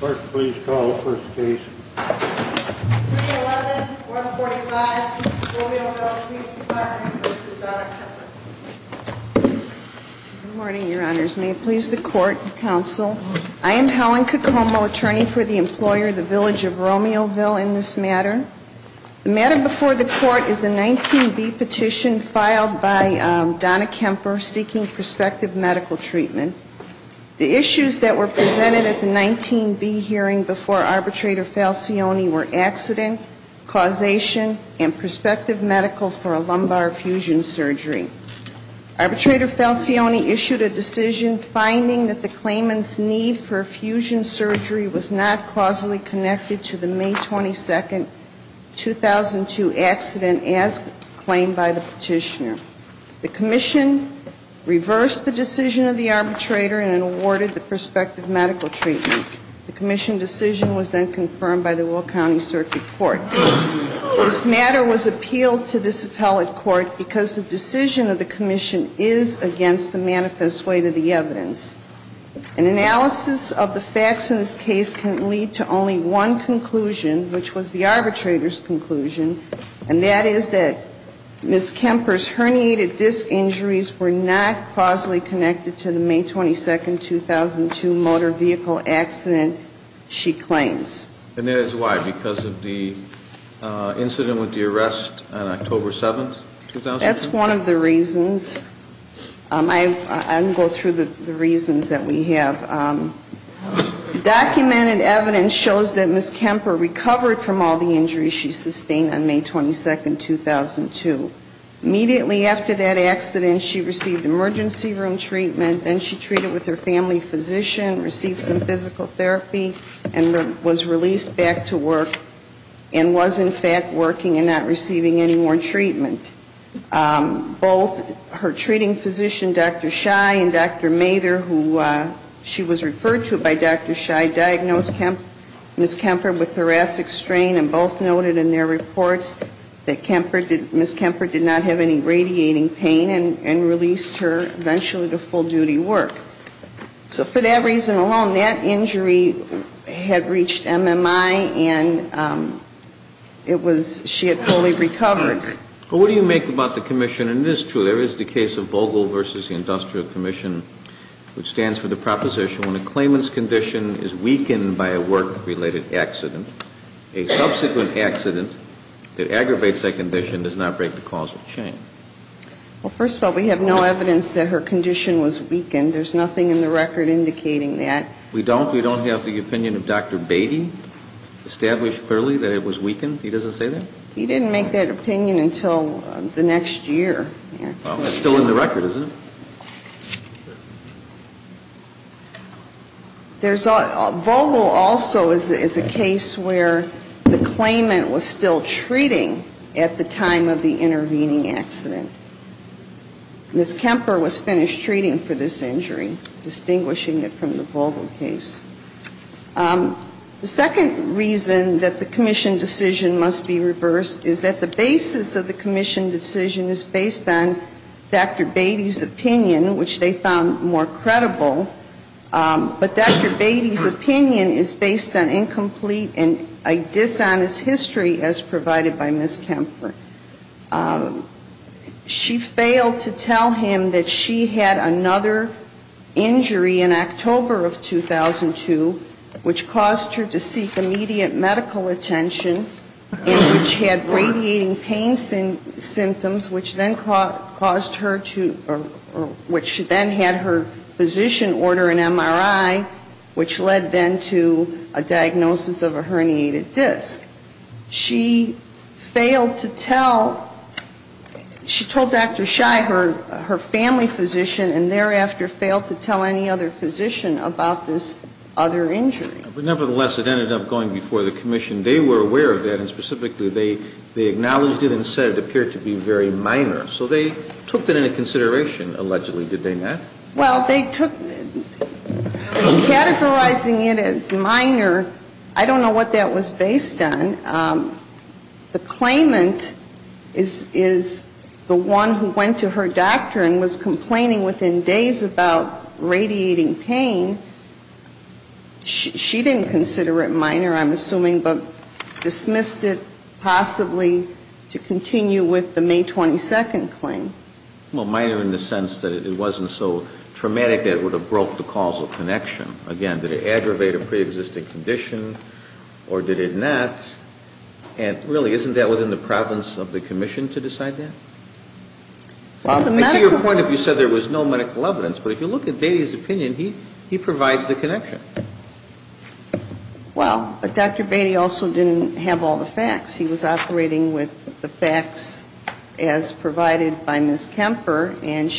Good morning, your honors. May it please the court and counsel, I am Helen Cocomo, attorney for the employer, the Village of Romeoville, in this matter. The matter before the court is a 19B petition filed by Donna Kemper seeking prospective medical treatment. The issues that were presented at the 19B hearing before Arbitrator Falcioni were accident, causation, and prospective medical for a lumbar fusion surgery. Arbitrator Falcioni issued a decision finding that the claimant's need for fusion surgery was not causally connected to the May 22nd, 2002 accident as claimed by the petitioner. The commission reversed the decision of the arbitrator and awarded the prospective medical treatment. The commission decision was then confirmed by the Will County Circuit Court. This matter was appealed to this appellate court because the decision of the commission is against the manifest weight of the evidence. An analysis of the facts in this case can lead to only one conclusion, which was the arbitrator's conclusion, and that is that Ms. Kemper's herniated disc injuries were not causally connected to the May 22nd, 2002 motor vehicle accident she claims. And that is why? Because of the incident with the arrest on October 7th, 2002? That's one of the reasons. I'll go through the reasons that we have. Documented evidence shows that Ms. Kemper recovered from all the injuries she sustained on May 22nd, 2002. Immediately after that accident, she received emergency room treatment, then she treated with her family physician, received some physical therapy, and was released back to work and was in fact working and not receiving any more treatment. Both her treating physician, Dr. Shy and Dr. Mather, who she was referred to by Dr. Shy, diagnosed Ms. Kemper with thoracic strain and both noted in their reports that Ms. Kemper did not have any radiating pain and released her eventually to full-duty work. So for that reason alone, that injury had reached MMI and it was, she had fully recovered. But what do you make about the commission? And it is true, there is the case of Vogel v. Industrial Commission, which stands for the proposition when a claimant's condition is weakened by a work-related accident, a subsequent accident that aggravates that condition does not break the causal chain. Well, first of all, we have no evidence that her condition was weakened. There's nothing in the record indicating that. We don't? We don't have the opinion of Dr. Beatty established clearly that it was weakened? He doesn't say that? He didn't make that opinion until the next year. Well, it's still in the record, isn't it? Vogel also is a case where the claimant was still treating at the time of the intervening accident. Ms. Kemper was finished treating for this injury, distinguishing it from the Vogel case. The second reason that the commission decision must be reversed is that the basis of the opinion, which they found more credible, but Dr. Beatty's opinion is based on incomplete and a dishonest history as provided by Ms. Kemper. She failed to tell him that she had another injury in October of 2002, which caused her to seek immediate medical attention and which had radiating pain symptoms, which then caused her to or which caused her to seek immediate medical attention, which then had her physician order an MRI, which led then to a diagnosis of a herniated disc. She failed to tell, she told Dr. Shai her family physician and thereafter failed to tell any other physician about this other injury. But nevertheless, it ended up going before the commission. They were aware of that, and specifically they acknowledged it and said it appeared to be very minor. So they took that into consideration, allegedly, did they not? Well, they took, categorizing it as minor, I don't know what that was based on. The claimant is the one who went to her doctor and was complaining within days about radiating pain. She didn't consider it minor, I'm assuming, but dismissed it possibly to continue with the May 22nd claim. Well, minor in the sense that it wasn't so traumatic that it would have broke the causal connection. Again, did it aggravate a preexisting condition or did it not? And really, isn't that within the province of the commission to decide that? Well, the medical evidence But I see your point if you said there was no medical evidence. But if you look at Beatty's opinion, he provides the connection. Well, but Dr. Beatty also didn't have all the facts. He was operating with the facts as provided by Ms. Kemper. And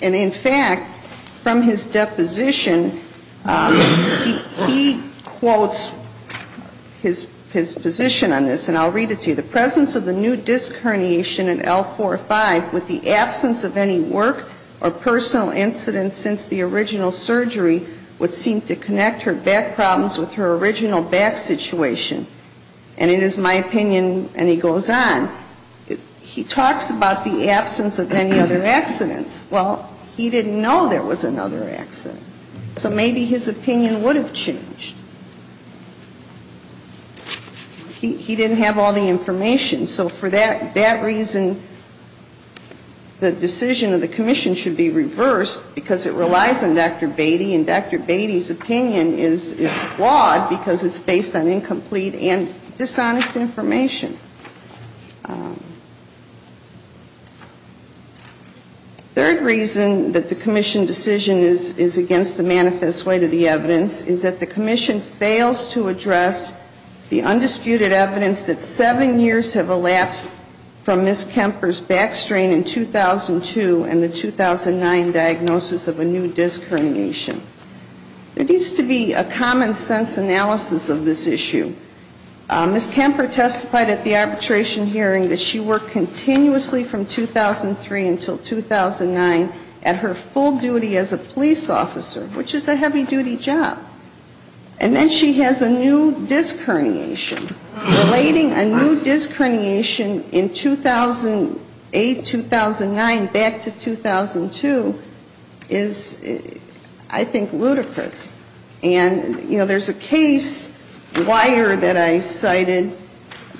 in fact, from his deposition, he quotes his position on this, and I'll read it to you. The presence of the new disc herniation in L4-5 with the absence of any work or personal incidents since the original surgery would seem to connect her back problems with her original back situation. And it is my opinion, and he goes on, he talks about the absence of any other accidents. Well, he didn't know there was another accident. So maybe his opinion would have changed. He didn't have all the information. So for that reason, the decision of the commission should be reversed because it relies on Dr. Beatty, and Dr. Beatty's opinion is flawed because it's based on incomplete and dishonest information. Third reason that the commission decision is against the manifest way to the evidence is that the commission fails to address the undisputed evidence that seven years have elapsed from Ms. Kemper's back strain in 2002 and the 2009 diagnosis of a new disc herniation. There needs to be a common sense analysis of this issue. Ms. Kemper testified at the arbitration hearing that she worked continuously from 2003 until 2009 at her full duty as a lawyer. And then she has a new disc herniation. Relating a new disc herniation in 2008-2009 back to 2002 is, I think, ludicrous. And, you know, there's a case wire that I cited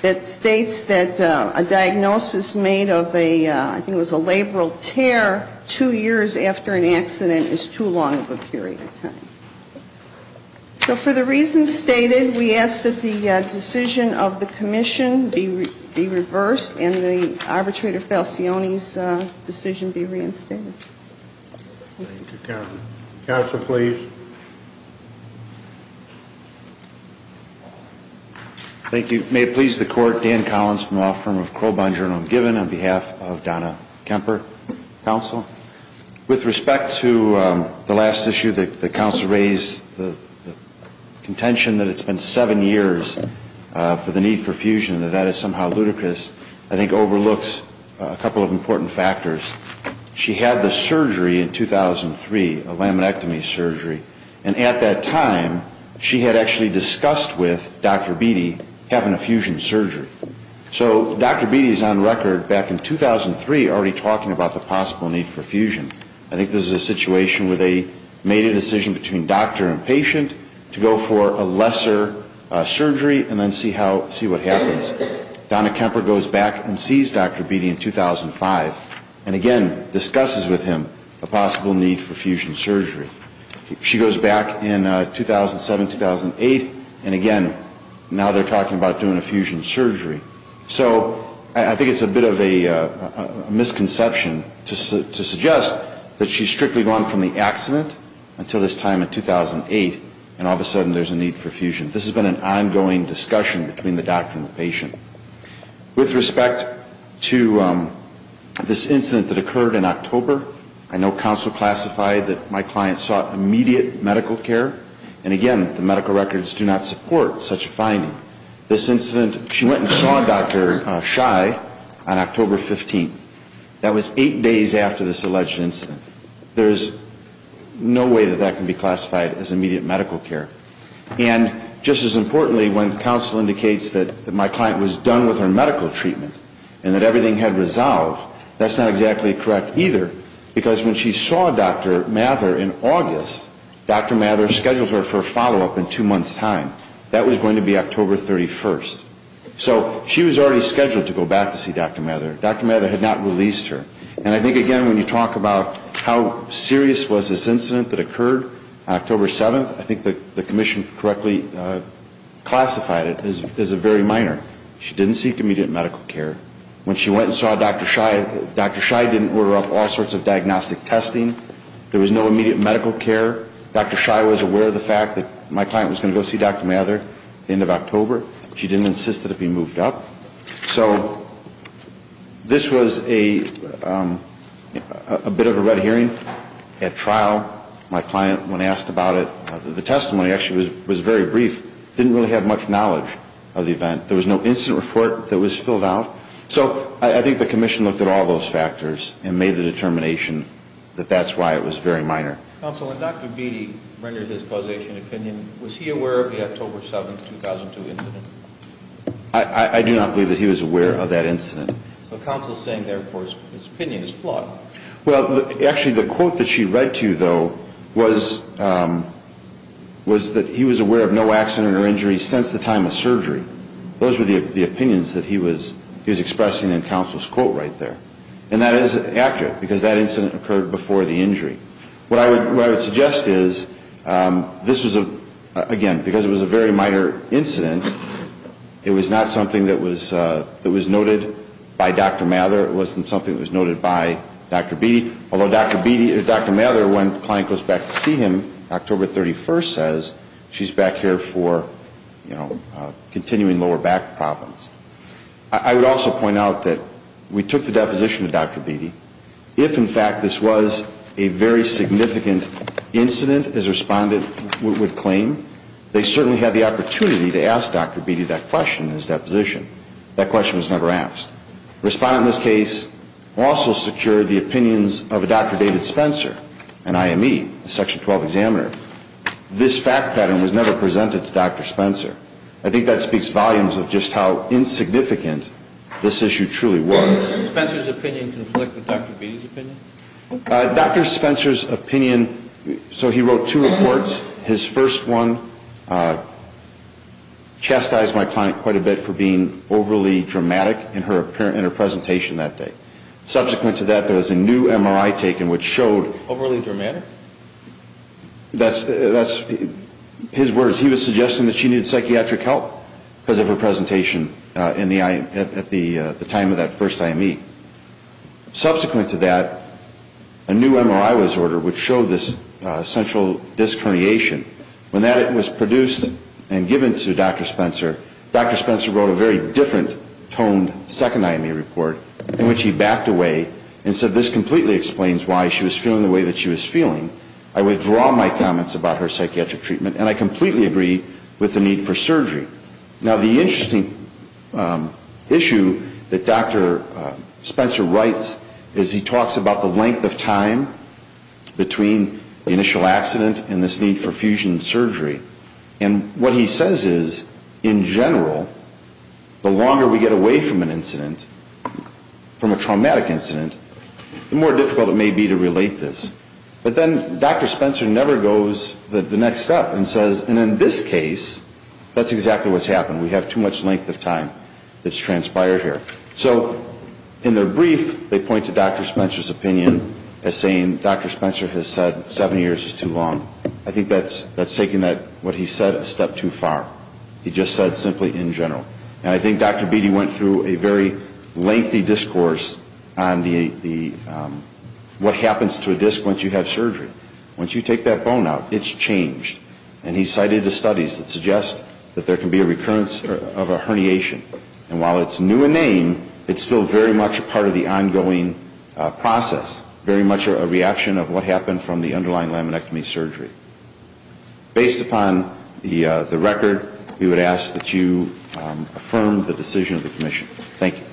that states that a diagnosis made of a, I think it was a labral tear two years after an accident is too long of a period of time. So for the reasons stated, we ask that the decision of the commission be reversed and the arbitrator Falcioni's decision be reinstated. Thank you, counsel. Counsel, please. Thank you. May it please the court, Dan Collins from the law firm of Crow Bonjour, and I'm given on behalf of the counsel to raise the contention that it's been seven years for the need for fusion, that that is somehow ludicrous. I think overlooks a couple of important factors. She had the surgery in 2003, a laminectomy surgery, and at that time she had actually discussed with Dr. Beatty having a fusion surgery. So Dr. Beatty is on record back in 2003 already talking about the possible need for fusion. I think this is a situation where they made a decision between doctor and patient to go for a lesser surgery and then see how, see what happens. Donna Kemper goes back and sees Dr. Beatty in 2005 and again discusses with him a possible need for fusion surgery. She goes back in 2007, 2008, and again now they're talking about doing a fusion surgery. So I think it's a bit of a misconception to suggest that she's strictly gone from the accident until this time in 2008 and all of a sudden there's a need for fusion. This has been an ongoing discussion between the doctor and the patient. With respect to this incident that occurred in October, I know counsel classified that my client sought immediate medical care, and again, the medical records do not support such a finding. This incident, she went and saw Dr. Shai on October 15th. That was eight days after this alleged incident. There's no way that that can be classified as immediate medical care. And just as importantly, when counsel indicates that my client was done with her medical treatment and that everything had resolved, that's not exactly correct either, because when she saw Dr. Mather in August, Dr. Mather scheduled her for a surgery on October 31st. So she was already scheduled to go back to see Dr. Mather. Dr. Mather had not released her. And I think, again, when you talk about how serious was this incident that occurred on October 7th, I think the commission correctly classified it as a very minor. She didn't seek immediate medical care. When she went and saw Dr. Shai, Dr. Shai didn't order up all sorts of diagnostic testing. There was no immediate medical care. Dr. Shai was aware of the fact that my client was going to go see Dr. Mather at the end of October. She didn't insist that it be moved up. So this was a bit of a red herring at trial. My client, when asked about it, the testimony actually was very brief. Didn't really have much knowledge of the event. There was no incident report that was filled out. So I think the commission looked at all those factors and made the determination that that's why it was very minor. Counsel, when Dr. Beatty rendered his causation opinion, was he aware of the October 7th, 2002 incident? I do not believe that he was aware of that incident. So counsel is saying, therefore, his opinion is flawed. Well, actually, the quote that she read to you, though, was that he was aware of no accident or injury since the time of surgery. Those were the opinions that he was expressing in counsel's quote right there. And that is accurate because that incident occurred before the injury. What I would suggest is this was a, again, because it was a very minor incident, it was not something that was noted by Dr. Mather. It wasn't something that was noted by Dr. Beatty. Although Dr. Beatty or Dr. Mather, when the client goes back to see him, October 31st says she's back here for, you know, I think that speaks volumes of just how insignificant this issue truly was. I'm going to ask you a question. Did Dr. Spencer's opinion conflict with Dr. Beatty's opinion? Dr. Spencer's opinion, so he wrote two reports. His first one chastised my client quite a bit for being overly dramatic in her presentation that day. Subsequent to that, there was a new MRI taken which showed... Overly dramatic? That's his words. He was suggesting that she needed psychiatric help because of her presentation at the time of that first IME. Subsequent to that, a new MRI was ordered which showed this central disc herniation. When that was produced and given to Dr. Spencer, Dr. Spencer wrote a very different toned second IME report in which he backed away and said this completely explains why she was feeling the way that she was feeling. I withdraw my comments about her psychiatric treatment and I completely agree with the need for surgery. Now, the interesting issue that Dr. Spencer writes is he talks about the length of time between the initial accident and this need for fusion surgery. And what he says is, in general, the longer we get away from an incident, from a traumatic incident, the more difficult it may be to relate this. But then Dr. Spencer never goes the next step and says, and in this case, that's exactly what's happened. We have too much length of time that's transpired here. So in their brief, they point to Dr. Spencer's opinion as saying Dr. Spencer has said seven years is too long. I think that's taking what he said a step too far. He just said simply in general. And I think Dr. Beatty went through a very lengthy discourse on what happens to a disc once you have surgery. Once you take that bone out, it's changed. And he cited the studies that suggest that there can be a recurrence of a herniation. And while it's new in name, it's still very much a part of the ongoing process, very much a reaction of what happened from the underlying laminectomy surgery. Based upon the record, we would ask that you affirm the decision of the commission. Thank you.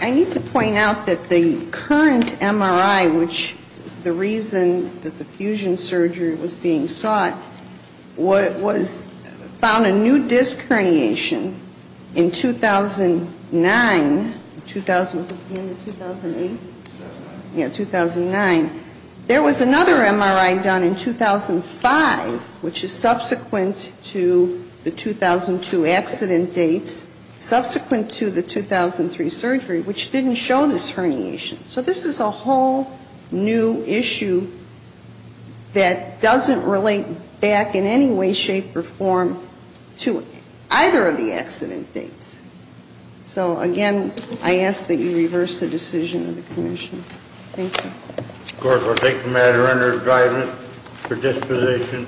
I need to point out that the current MRI, which is the reason that the fusion surgery was being sought, found a new disc herniation in 2009. Was it in 2008? Yeah, 2009. There was another MRI done in 2005, which is subsequent to the 2002 accident dates, subsequent to the 2003 surgery, which didn't show this herniation. So this is a whole new issue that doesn't relate back in any way, shape, or form to either of the accident dates. So, again, I ask that you reverse the decision of the commission. Thank you. Of course, we'll take the matter under his guidance for disposition.